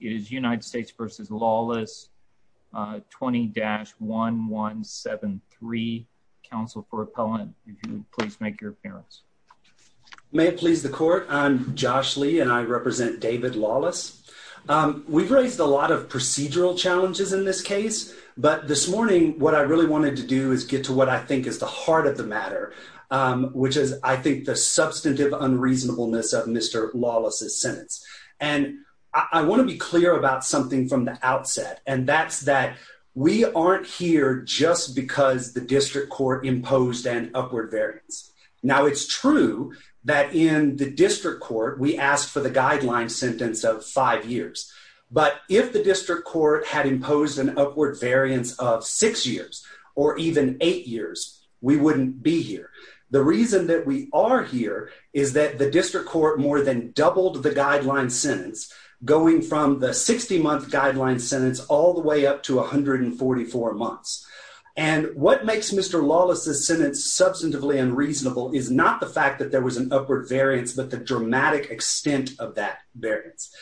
It is United States v. Lawless 20-1173. Counsel for appellant, please make your appearance. May it please the court, I'm Josh Lee and I represent David Lawless. We've raised a lot of procedural challenges in this case, but this morning what I really wanted to do is get to what I think is the heart of the matter, which is I think the substantive unreasonableness of Mr. Lawless's sentence. And I want to be clear about something from the outset, and that's that we aren't here just because the district court imposed an upward variance. Now, it's true that in the district court we asked for the guideline sentence of five years. But if the district court had imposed an upward variance of six years or even eight years, we wouldn't be here. The reason that we are here is that the district court more than doubled the guideline sentence, going from the 60-month guideline sentence all the way up to 144 months. And what makes Mr. Lawless's sentence substantively unreasonable is not the fact that there was an upward variance, but the dramatic extent of that variance.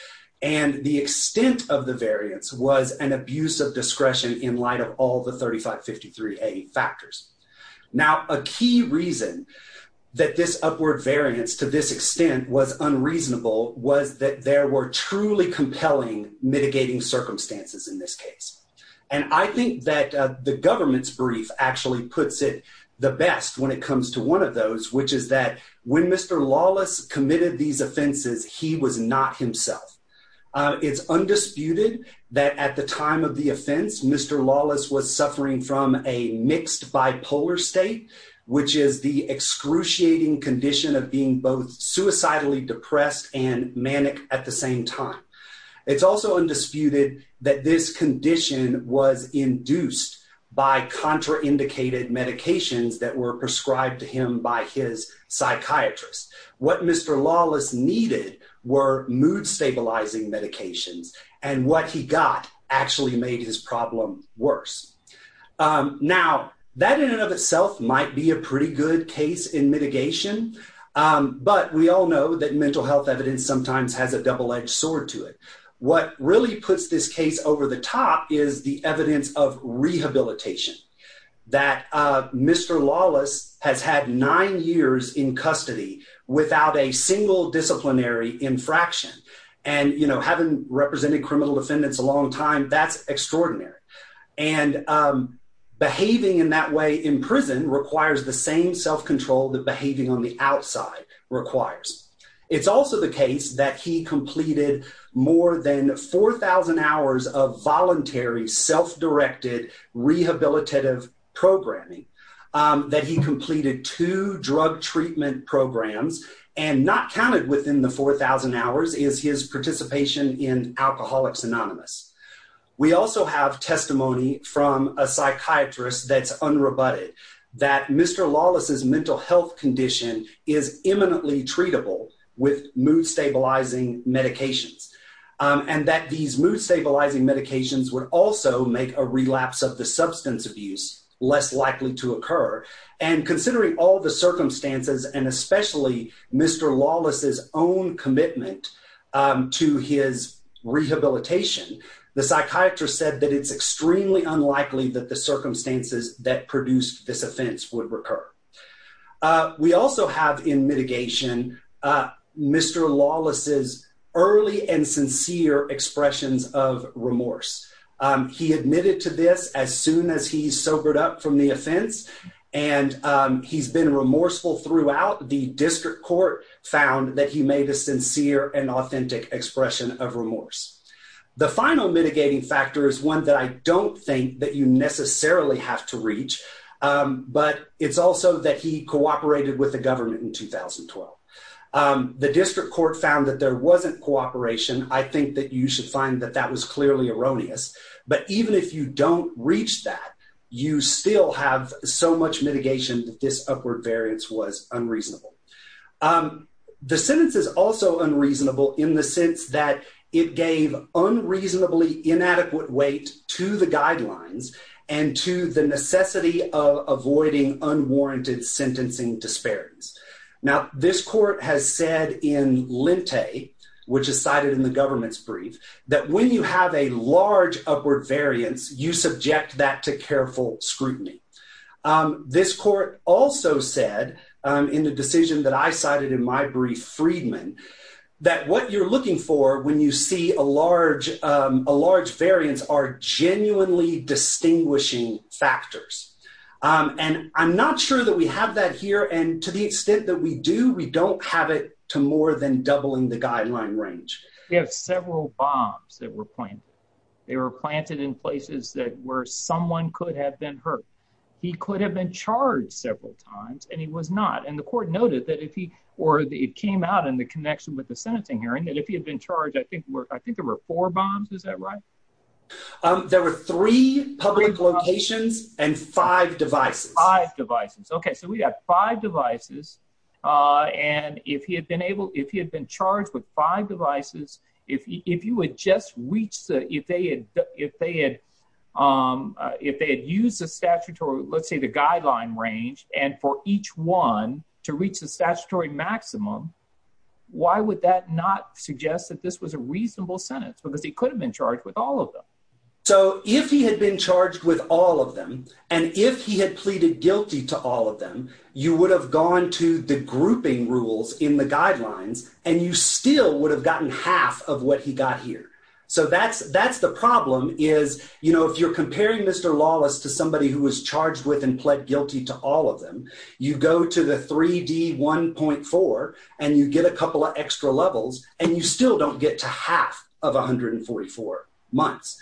And the extent of the variance was an abuse of discretion in light of all the 3553A factors. Now, a key reason that this upward variance to this extent was unreasonable was that there were truly compelling mitigating circumstances in this case. And I think that the government's brief actually puts it the best when it comes to one of those, which is that when Mr. Lawless committed these offenses, he was not himself. It's undisputed that at the time of the offense, Mr. Lawless was suffering from a mixed bipolar state, which is the excruciating condition of being both suicidally depressed and manic at the same time. It's also undisputed that this condition was induced by contraindicated medications that were prescribed to him by his psychiatrist. What Mr. Lawless needed were mood-stabilizing medications, and what he got actually made his problem worse. Now, that in and of itself might be a pretty good case in mitigation, but we all know that mental health evidence sometimes has a double-edged sword to it. What really puts this case over the top is the evidence of rehabilitation, that Mr. Lawless has had nine years in custody without a single disciplinary infraction. And, you know, having represented criminal defendants a long time, that's extraordinary. And behaving in that way in prison requires the same self-control that behaving on the outside requires. It's also the case that he completed more than 4,000 hours of voluntary, self-directed, rehabilitative programming. That he completed two drug treatment programs, and not counted within the 4,000 hours is his participation in Alcoholics Anonymous. We also have testimony from a psychiatrist that's unrebutted that Mr. Lawless's mental health condition is imminently treatable with mood-stabilizing medications. And that these mood-stabilizing medications would also make a relapse of the substance abuse less likely to occur. And considering all the circumstances, and especially Mr. Lawless's own commitment to his rehabilitation, the psychiatrist said that it's extremely unlikely that the circumstances that produced this offense would recur. We also have in mitigation Mr. Lawless's early and sincere expressions of remorse. He admitted to this as soon as he sobered up from the offense, and he's been remorseful throughout. The district court found that he made a sincere and authentic expression of remorse. The final mitigating factor is one that I don't think that you necessarily have to reach. But it's also that he cooperated with the government in 2012. The district court found that there wasn't cooperation. I think that you should find that that was clearly erroneous. But even if you don't reach that, you still have so much mitigation that this upward variance was unreasonable. The sentence is also unreasonable in the sense that it gave unreasonably inadequate weight to the guidelines, and to the necessity of avoiding unwarranted sentencing disparities. Now, this court has said in Lente, which is cited in the government's brief, that when you have a large upward variance, you subject that to careful scrutiny. This court also said in the decision that I cited in my brief, Friedman, that what you're looking for when you see a large variance are genuinely distinguishing factors. And I'm not sure that we have that here. And to the extent that we do, we don't have it to more than doubling the guideline range. We have several bombs that were planted. They were planted in places that where someone could have been hurt. He could have been charged several times and he was not. And the court noted that if he or it came out in the connection with the sentencing hearing that if he had been charged, I think I think there were four bombs. Is that right? There were three public locations and five devices, five devices. OK, so we have five devices. And if he had been able if he had been charged with five devices, if you would just reach the if they had if they had if they had used the statutory, let's say the guideline range and for each one to reach the statutory maximum. Why would that not suggest that this was a reasonable sentence? Because he could have been charged with all of them. So if he had been charged with all of them and if he had pleaded guilty to all of them, you would have gone to the grouping rules in the guidelines and you still would have gotten half of what he got here. So that's that's the problem is, you know, if you're comparing Mr. Lawless to somebody who was charged with and pled guilty to all of them, you go to the 3D 1.4 and you get a couple of extra levels and you still don't get to half of one hundred and forty four months.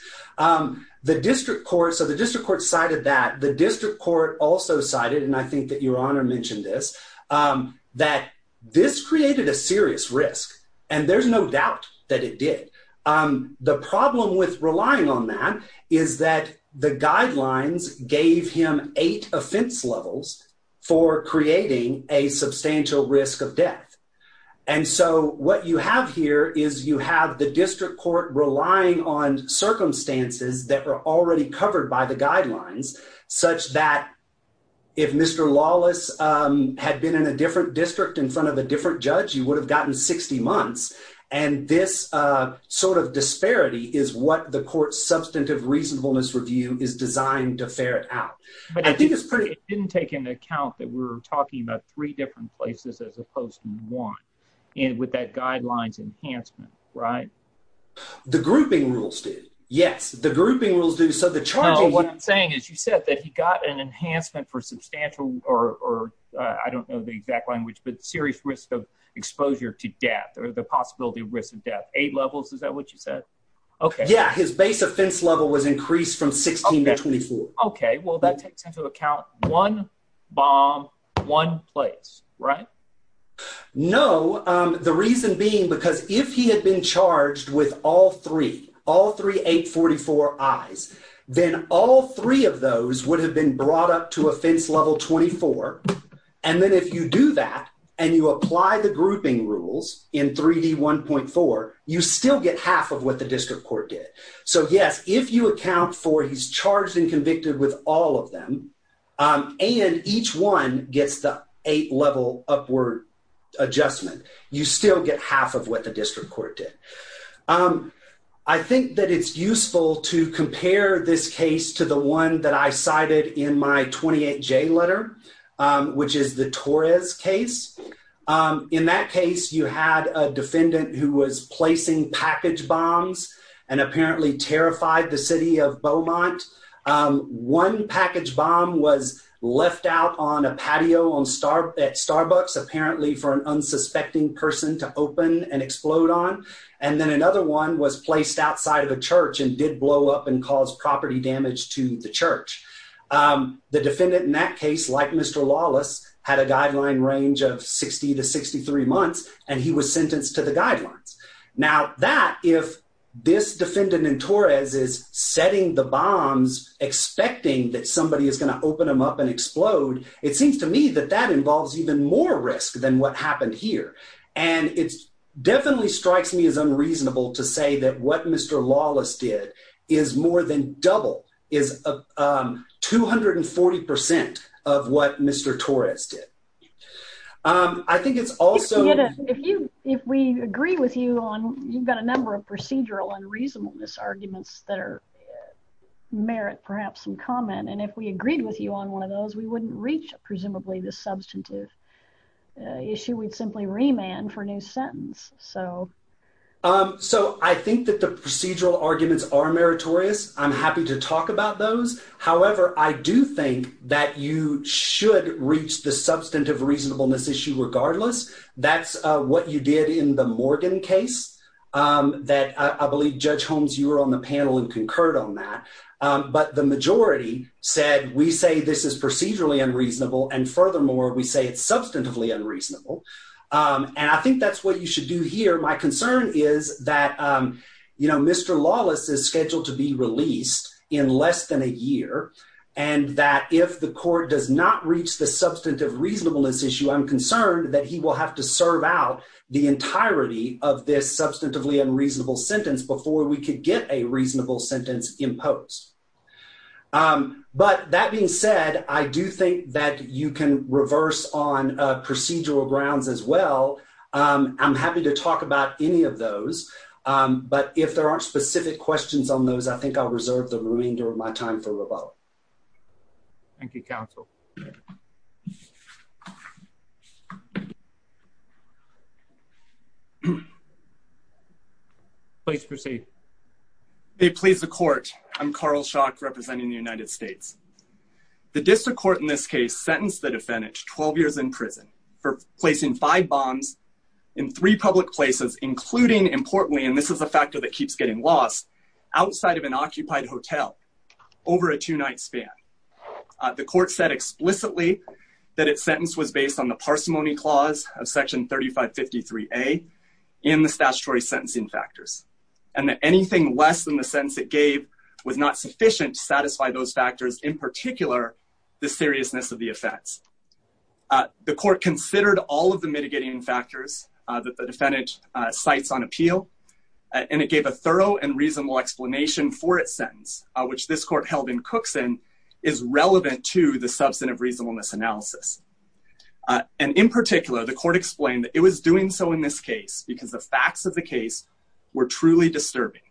The district court. So the district court cited that the district court also cited. And I think that your honor mentioned this, that this created a serious risk. And there's no doubt that it did. The problem with relying on that is that the guidelines gave him eight offense levels for creating a substantial risk of death. And so what you have here is you have the district court relying on circumstances that are already covered by the guidelines such that if Mr. Lawless had been in a different district in front of a different judge, you would have gotten 60 months. And this sort of disparity is what the court substantive reasonableness review is designed to ferret out. But I think it's pretty didn't take into account that we're talking about three different places as opposed to one. And with that guidelines enhancement. Right. The grouping rules did. Yes. The grouping rules do. So the trial, what I'm saying is you said that he got an enhancement for substantial or I don't know the exact language, but serious risk of exposure to death or the possibility of risk of death. Eight levels. Is that what you said? OK. Yeah. His base offense level was increased from 16 to 24. OK. Well, that takes into account one bomb, one place. Right. No. The reason being, because if he had been charged with all three, all three, eight, 44 eyes, then all three of those would have been brought up to offense level 24. And then if you do that and you apply the grouping rules in 3D 1.4, you still get half of what the district court did. So, yes, if you account for he's charged and convicted with all of them and each one gets the eight level upward adjustment, you still get half of what the district court did. I think that it's useful to compare this case to the one that I cited in my 28 J letter. Which is the Torres case. In that case, you had a defendant who was placing package bombs and apparently terrified the city of Beaumont. One package bomb was left out on a patio on star at Starbucks, apparently for an unsuspecting person to open and explode on. And then another one was placed outside of a church and did blow up and cause property damage to the church. The defendant in that case, like Mr. Lawless, had a guideline range of 60 to 63 months and he was sentenced to the guidelines. Now that if this defendant in Torres is setting the bombs, expecting that somebody is going to open them up and explode. It seems to me that that involves even more risk than what happened here. And it's definitely strikes me as unreasonable to say that what Mr. Lawless did is more than double is 240% of what Mr. Torres did. I think it's also if you if we agree with you on you've got a number of procedural and reasonableness arguments that are merit perhaps some comment. And if we agreed with you on one of those, we wouldn't reach presumably the substantive issue. We'd simply remand for new sentence. So, um, so I think that the procedural arguments are meritorious. I'm happy to talk about those. However, I do think that you should reach the substantive reasonableness issue regardless. That's what you did in the Morgan case that I believe Judge Holmes, you were on the panel and concurred on that. But the majority said, we say this is procedurally unreasonable. And furthermore, we say it's substantively unreasonable. And I think that's what you should do here. My concern is that, you know, Mr. Lawless is scheduled to be released in less than a year. And that if the court does not reach the substantive reasonableness issue, I'm concerned that he will have to serve out the entirety of this substantively unreasonable sentence before we could get a reasonable sentence imposed. But that being said, I do think that you can reverse on procedural grounds as well. I'm happy to talk about any of those. But if there aren't specific questions on those, I think I'll reserve the remainder of my time for rebuttal. Thank you, counsel. Please proceed. They please the court. I'm Carl Shock representing the United States. The district court in this case sentenced the defendant to 12 years in prison for placing five bombs in three public places, including importantly, and this is a factor that keeps getting lost outside of an occupied hotel over a two night span. The court said explicitly that its sentence was based on the parsimony clause of Section 3553 a in the statutory sentencing factors and that anything less than the sense it gave was not sufficient to satisfy those factors, in particular, the seriousness of the effects. The court considered all of the mitigating factors that the defendant sites on appeal, and it gave a thorough and reasonable explanation for its sentence, which this court held in Cookson is relevant to the substantive reasonableness analysis. And in particular, the court explained that it was doing so in this case because the facts of the case were truly disturbing.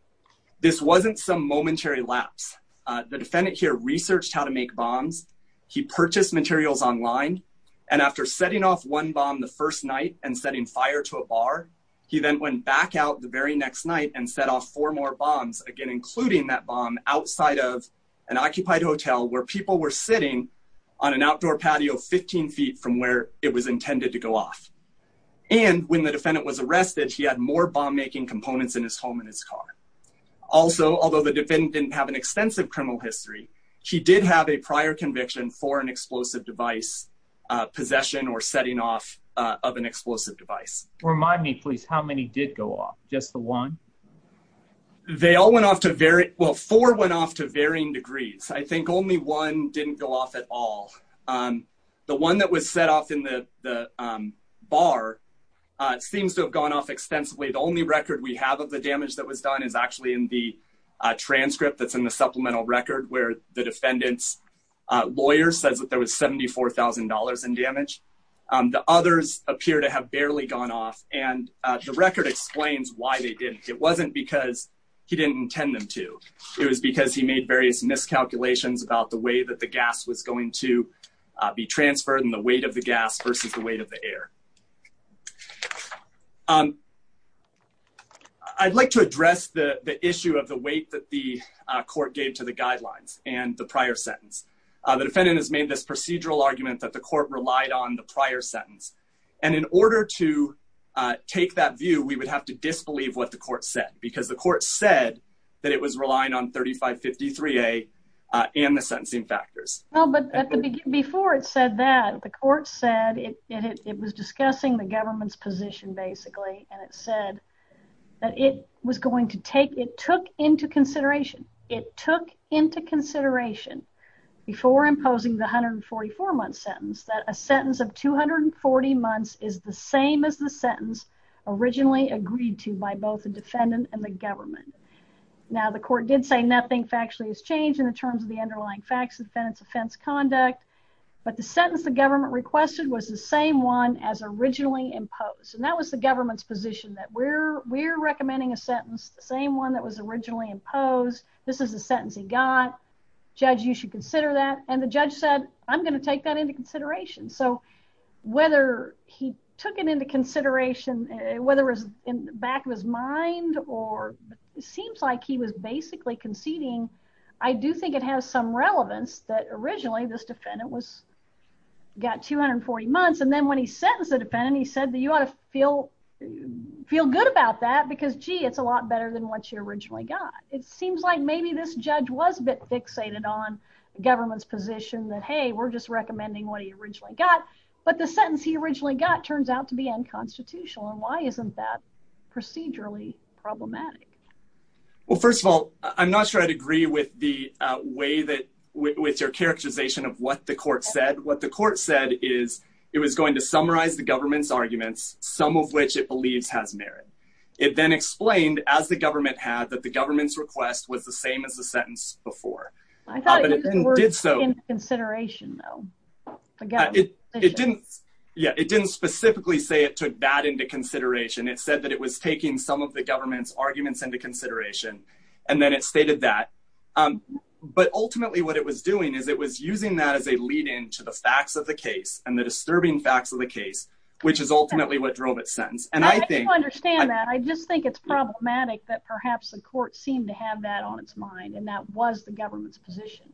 This wasn't some momentary lapse. The defendant here researched how to make bombs. He purchased materials online. And after setting off one bomb the first night and setting fire to a bar. He then went back out the very next night and set off for more bombs again including that bomb outside of an occupied hotel where people were sitting on an outdoor patio 15 feet from where it was intended to go off. And when the defendant was arrested, she had more bomb making components in his home in his car. Also, although the defendant didn't have an extensive criminal history. She did have a prior conviction for an explosive device possession or setting off of an explosive device. Remind me please how many did go off just the one. They all went off to very well for went off to varying degrees. I think only one didn't go off at all. The one that was set off in the bar seems to have gone off extensively. The only record we have of the damage that was done is actually in the transcript that's in the supplemental record where the defendants lawyer says that there was $74,000 in damage. The others appear to have barely gone off and the record explains why they didn't. It wasn't because he didn't intend them to. It was because he made various miscalculations about the way that the gas was going to be transferred and the weight of the gas versus the weight of the air. Um, I'd like to address the issue of the weight that the court gave to the guidelines and the prior sentence. The defendant has made this procedural argument that the court relied on the prior sentence. And in order to take that view, we would have to disbelieve what the court said because the court said that it was relying on 3553 a and the sentencing factors. No, but before it said that the court said it was discussing the government's position, basically, and it said that it was going to take it took into consideration, it took into consideration. Before imposing the hundred and 44 months sentence that a sentence of 240 months is the same as the sentence originally agreed to by both the defendant and the government. Now, the court did say nothing factually has changed in terms of the underlying facts of defense offense conduct. But the sentence, the government requested was the same one as originally imposed and that was the government's position that we're we're recommending a sentence, the same one that was originally imposed. This is a sentence he got Judge, you should consider that and the judge said, I'm going to take that into consideration. So, whether he took it into consideration, whether it was in the back of his mind or seems like he was basically conceding. I do think it has some relevance that originally this defendant was got 240 months and then when he says the defendant. He said that you ought to feel Feel good about that because, gee, it's a lot better than what you originally got. It seems like maybe this judge was bit fixated on government's position that, hey, we're just recommending what he originally got But the sentence he originally got turns out to be unconstitutional and why isn't that procedurally problematic. Well, first of all, I'm not sure I'd agree with the way that with your characterization of what the court said what the court said is it was going to summarize the government's arguments, some of which it believes has merit. It then explained as the government had that the government's request was the same as the sentence before I thought it did so in consideration, though. Yeah, it didn't specifically say it took that into consideration. It said that it was taking some of the government's arguments into consideration and then it stated that But ultimately what it was doing is it was using that as a lead into the facts of the case and the disturbing facts of the case, which is ultimately what drove it sentence and I think I understand that. I just think it's problematic that perhaps the court seemed to have that on its mind. And that was the government's position.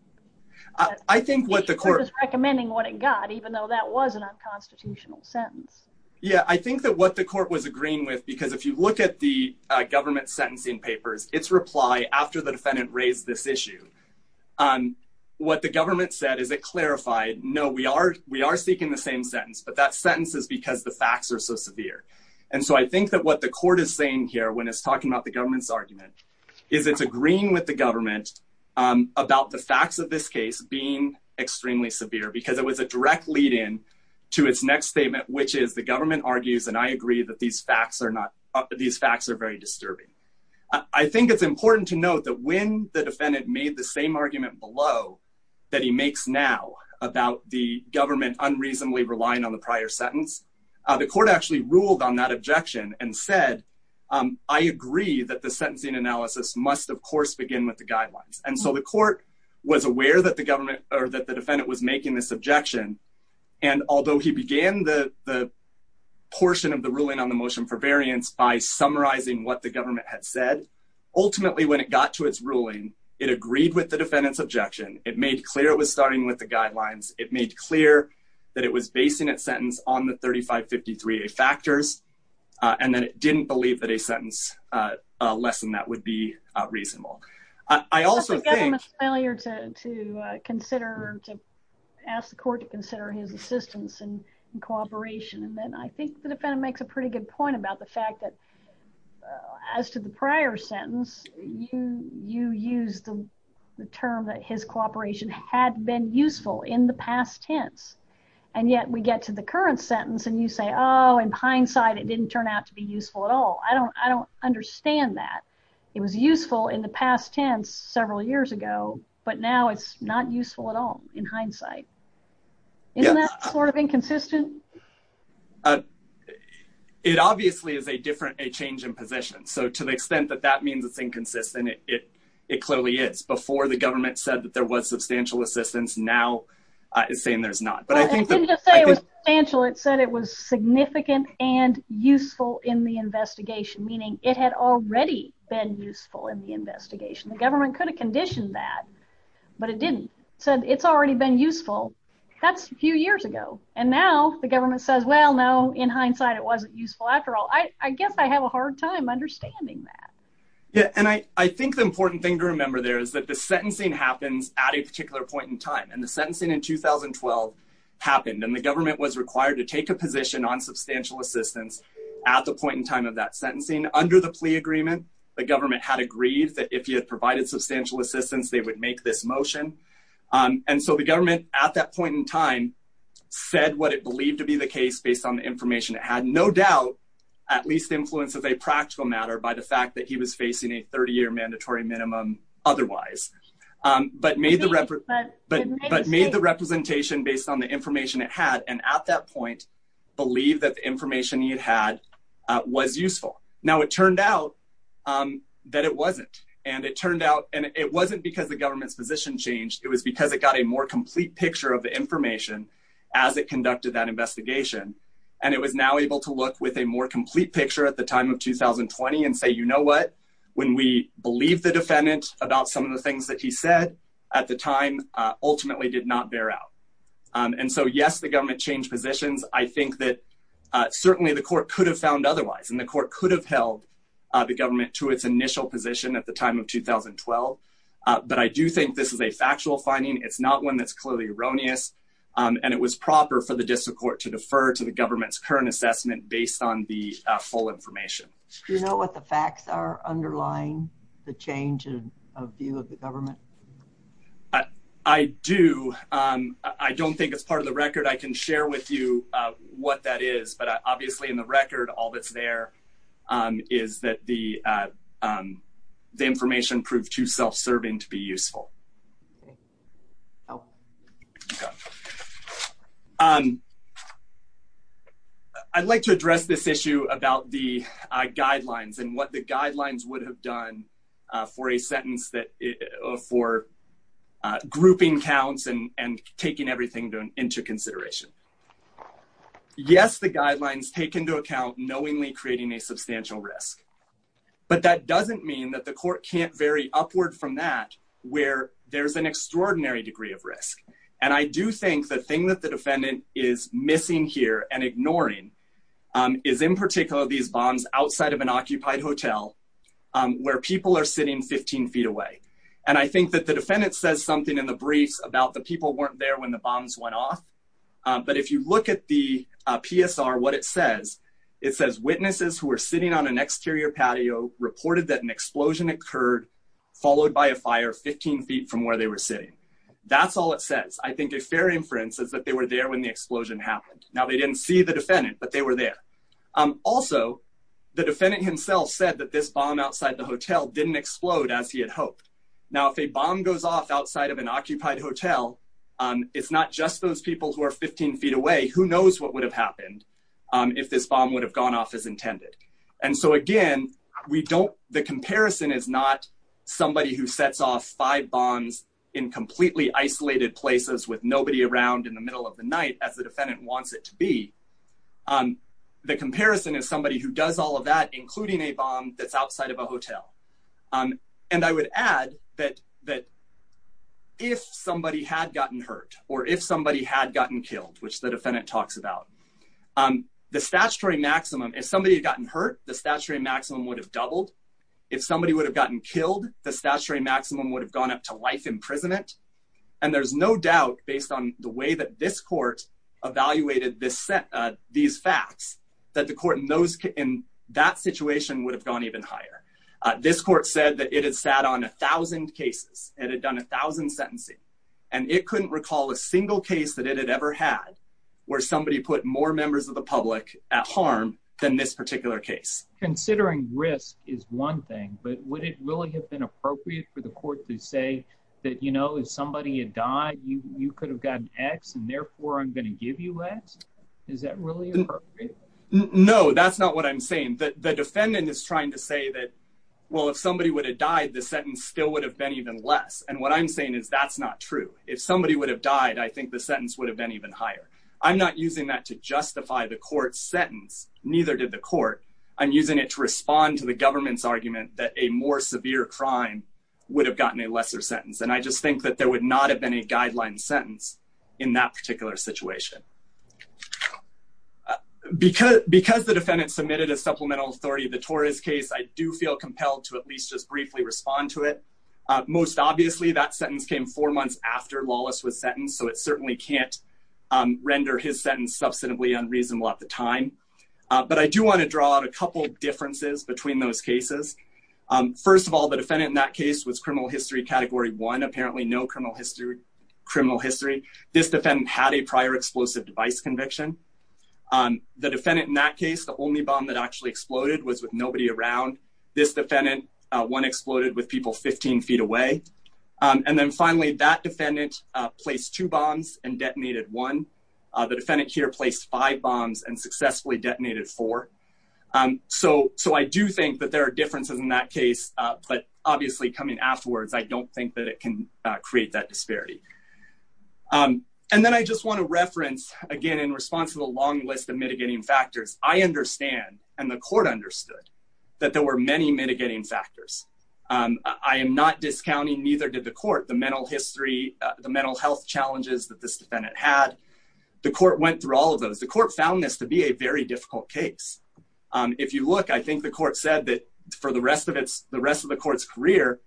I think what the court was recommending what it got, even though that was an unconstitutional sentence. Yeah, I think that what the court was agreeing with because if you look at the government sentencing papers, it's reply after the defendant raised this issue. And what the government said is it clarified. No, we are we are seeking the same sentence, but that sentence is because the facts are so severe. And so I think that what the court is saying here when it's talking about the government's argument is it's agreeing with the government. About the facts of this case being extremely severe because it was a direct lead in to its next statement, which is the government argues and I agree that these facts are not these facts are very disturbing. I think it's important to note that when the defendant made the same argument below that he makes now about the government unreasonably relying on the prior sentence. The court actually ruled on that objection and said, I agree that the sentencing analysis must, of course, begin with the guidelines. And so the court was aware that the government or that the defendant was making this objection. And although he began the portion of the ruling on the motion for variance by summarizing what the government had said. Ultimately, when it got to its ruling, it agreed with the defendant's objection. It made clear it was starting with the guidelines. It made clear that it was based in its sentence on the 3553 factors and then it didn't believe that a sentence lesson that would be reasonable. I also think earlier to to consider to ask the court to consider his assistance and cooperation. And then I think the defendant makes a pretty good point about the fact that as to the prior sentence you you use the term that his cooperation had been useful in the past tense. And yet we get to the current sentence and you say, oh, in hindsight, it didn't turn out to be useful at all. I don't, I don't understand that it was useful in the past tense several years ago, but now it's not useful at all. In hindsight. In that sort of inconsistent. It obviously is a different a change in position. So to the extent that that means it's inconsistent. It, it clearly is before the government said that there was substantial assistance now is saying there's not, but I think It said it was significant and useful in the investigation, meaning it had already been useful in the investigation, the government could have conditioned that, but it didn't said it's already been useful. That's a few years ago, and now the government says, Well, no, in hindsight, it wasn't useful. After all, I guess I have a hard time understanding that. Yeah, and I, I think the important thing to remember there is that the sentencing happens at a particular point in time and the sentencing in 2012 happened and the government was required to take a position on substantial assistance at the point in time of that sentencing under the plea agreement, the government had agreed that if you had provided substantial assistance, they would make this motion. And so the government at that point in time, said what it believed to be the case based on the information that had no doubt at least influences a practical matter by the fact that he was facing a 30 year mandatory minimum. Otherwise, but made the record, but, but, but made the representation based on the information it had and at that point, believe that the information you had was useful. Now it turned out that it wasn't, and it turned out, and it wasn't because the government's position changed, it was because it got a more complete picture of the information as it conducted that investigation. And it was now able to look with a more complete picture at the time of 2020 and say you know what, when we believe the defendant about some of the things that he said at the time, ultimately did not bear out. And so yes, the government changed positions, I think that certainly the court could have found otherwise and the court could have held the government to its initial position at the time of 2012. But I do think this is a factual finding it's not one that's clearly erroneous, and it was proper for the district court to defer to the government's current assessment based on the full information. You know what the facts are underlying the change of view of the government. I do. I don't think it's part of the record I can share with you what that is but obviously in the record all that's there is that the, the information proved to self serving to be useful. Oh, um, I'd like to address this issue about the guidelines and what the guidelines would have done for a sentence that for grouping counts and taking everything into consideration. Yes, the guidelines take into account knowingly creating a substantial risk, but that doesn't mean that the court can't vary upward from that, where there's an extraordinary degree of risk. And I do think the thing that the defendant is missing here and ignoring is in particular these bombs outside of an occupied hotel, where people are sitting 15 feet away. And I think that the defendant says something in the briefs about the people weren't there when the bombs went off. But if you look at the PSR what it says, it says witnesses who are sitting on an exterior patio reported that an explosion occurred, followed by a fire 15 feet from where they were sitting. That's all it says I think a fair inference is that they were there when the explosion happened. Now they didn't see the defendant but they were there. Also, the defendant himself said that this bomb outside the hotel didn't explode as he had hoped. Now if a bomb goes off outside of an occupied hotel on it's not just those people who are 15 feet away who knows what would have happened. If this bomb would have gone off as intended. And so again, we don't, the comparison is not somebody who sets off five bonds in completely isolated places with nobody around in the middle of the night as the defendant wants it to be. The comparison is somebody who does all of that, including a bomb that's outside of a hotel. And I would add that, that if somebody had gotten hurt, or if somebody had gotten killed, which the defendant talks about the statutory maximum if somebody had gotten hurt, the statutory maximum would have doubled. If somebody would have gotten killed, the statutory maximum would have gone up to life imprisonment. And there's no doubt, based on the way that this court evaluated this set these facts that the court knows in that situation would have gone even higher. This court said that it has sat on 1000 cases, and it done 1000 sentencing, and it couldn't recall a single case that it had ever had, where somebody put more members of the public at harm than this particular case. Considering risk is one thing, but would it really have been appropriate for the court to say that, you know, if somebody had died, you could have gotten x and therefore I'm going to give you x. Is that really No, that's not what I'm saying that the defendant is trying to say that, well, if somebody would have died, the sentence still would have been even less. And what I'm saying is that's not true. If somebody would have died, I think the sentence would have been even higher. I'm not using that to justify the court sentence. Neither did the court. I'm using it to respond to the government's argument that a more severe crime would have gotten a lesser sentence. And I just think that there would not have been a guideline sentence in that particular situation. Because because the defendant submitted a supplemental authority, the tourist case, I do feel compelled to at least just briefly respond to it. Most obviously, that sentence came four months after lawless was sentenced, so it certainly can't render his sentence substantively unreasonable at the time. But I do want to draw out a couple differences between those cases. First of all, the defendant in that case was criminal history category one apparently no criminal history criminal history. This defendant had a prior explosive device conviction. The defendant in that case, the only bomb that actually exploded was with nobody around this defendant. One exploded with people 15 feet away. And then finally, that defendant placed two bombs and detonated one. The defendant here placed five bombs and successfully detonated four. So so I do think that there are differences in that case. But obviously, coming afterwards, I don't think that it can create that disparity. And then I just want to reference again in response to the long list of mitigating factors. I understand and the court understood that there were many mitigating factors. I am not discounting neither did the court, the mental history, the mental health challenges that this defendant had. The court went through all of those. The court found this to be a very difficult case. If you look, I think the court said that for the rest of its the rest of the court's career,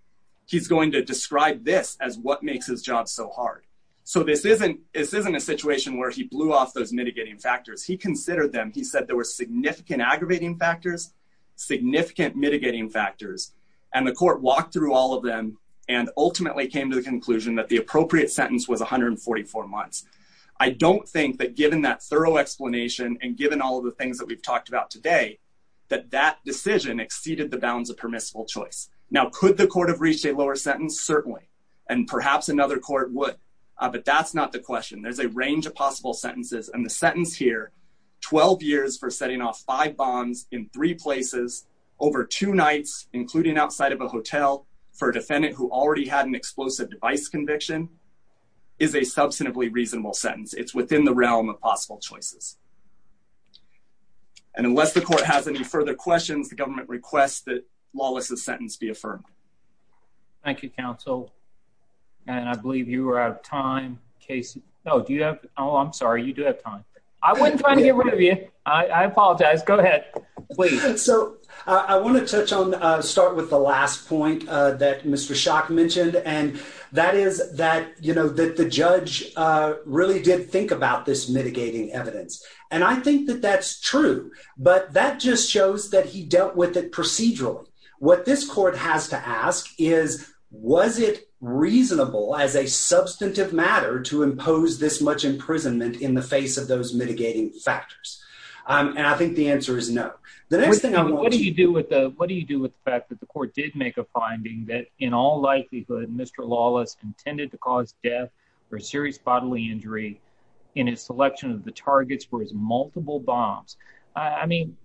he's going to describe this as what makes his job so hard. So this isn't this isn't a situation where he blew off those mitigating factors. He considered them. He said there were significant aggravating factors, significant mitigating factors. And the court walked through all of them and ultimately came to the conclusion that the appropriate sentence was 144 months. I don't think that given that thorough explanation and given all of the things that we've talked about today, that that decision exceeded the bounds of permissible choice. Now, could the court have reached a lower sentence? Certainly. And perhaps another court would. But that's not the question. There's a range of possible sentences. And the sentence here, 12 years for setting off five bombs in three places over two nights, including outside of a hotel for a defendant who already had an explosive device conviction, is a substantively reasonable sentence. It's within the realm of possible choices. And unless the court has any further questions, the government requests that Lawless's sentence be affirmed. Thank you, counsel. And I believe you are out of time, Casey. Oh, do you have? Oh, I'm sorry. You do have time. I wasn't trying to get rid of you. I apologize. Go ahead. So I want to touch on start with the last point that Mr. Shock mentioned, and that is that, you know, that the judge really did think about this mitigating evidence. And I think that that's true, but that just shows that he dealt with it procedurally. What this court has to ask is, was it reasonable as a substantive matter to impose this much imprisonment in the face of those mitigating factors? And I think the answer is no. What do you do with the fact that the court did make a finding that in all likelihood, Mr. Lawless intended to cause death or serious bodily injury in his selection of the targets for his multiple bombs? I mean,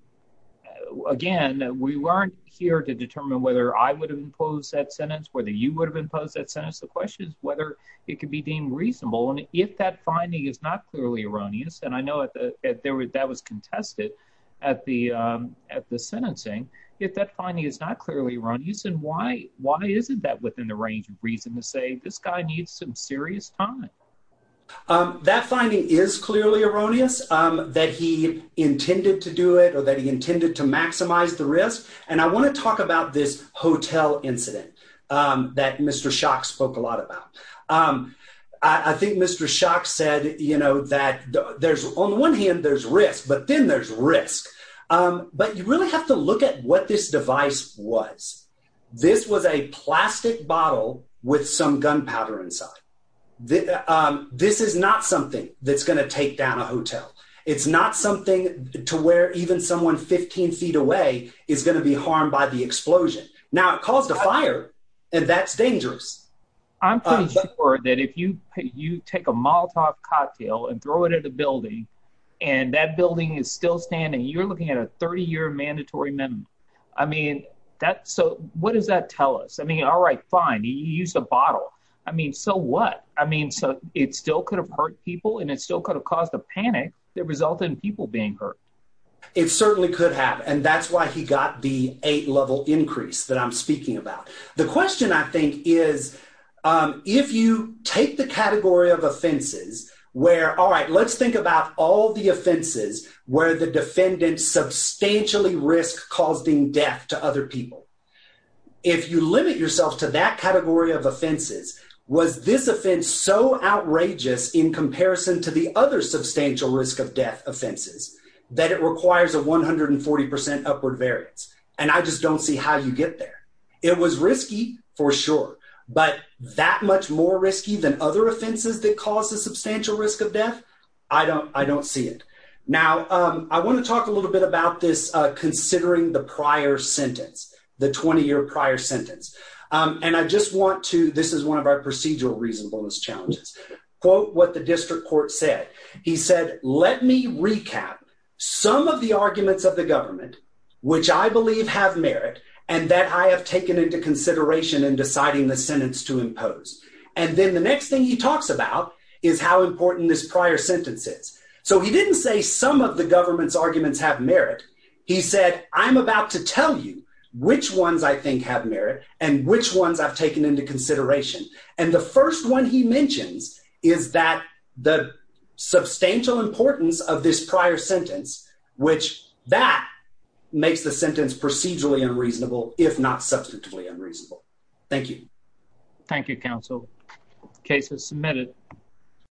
again, we weren't here to determine whether I would impose that sentence, whether you would have imposed that sentence. The question is whether it could be deemed reasonable. And if that finding is not clearly erroneous, and I know that was contested at the sentencing, if that finding is not clearly erroneous, then why isn't that within the range of reason to say this guy needs some serious time? That finding is clearly erroneous, that he intended to do it or that he intended to maximize the risk. And I want to talk about this hotel incident that Mr. Shock spoke a lot about. I think Mr. Shock said that on the one hand, there's risk, but then there's risk. But you really have to look at what this device was. This was a plastic bottle with some gunpowder inside. This is not something that's going to take down a hotel. It's not something to where even someone 15 feet away is going to be harmed by the explosion. Now, it caused a fire, and that's dangerous. I'm pretty sure that if you take a Molotov cocktail and throw it at a building, and that building is still standing, you're looking at a 30-year mandatory minimum. I mean, so what does that tell us? I mean, all right, fine, you used a bottle. I mean, so what? I mean, so it still could have hurt people, and it still could have caused a panic that resulted in people being hurt. It certainly could have, and that's why he got the eight-level increase that I'm speaking about. The question, I think, is if you take the category of offenses where, all right, let's think about all the offenses where the defendant substantially risked causing death to other people. If you limit yourself to that category of offenses, was this offense so outrageous in comparison to the other substantial risk of death offenses that it requires a 140% upward variance? And I just don't see how you get there. It was risky for sure, but that much more risky than other offenses that cause a substantial risk of death? I don't see it. Now, I want to talk a little bit about this considering the prior sentence, the 20-year prior sentence. And I just want to, this is one of our procedural reasonableness challenges, quote what the district court said. He said, let me recap some of the arguments of the government, which I believe have merit, and that I have taken into consideration in deciding the sentence to impose. And then the next thing he talks about is how important this prior sentence is. So he didn't say some of the government's arguments have merit. He said, I'm about to tell you which ones I think have merit and which ones I've taken into consideration. And the first one he mentions is that the substantial importance of this prior sentence, which that makes the sentence procedurally unreasonable, if not substantively unreasonable. Thank you. Thank you, counsel. Case is submitted.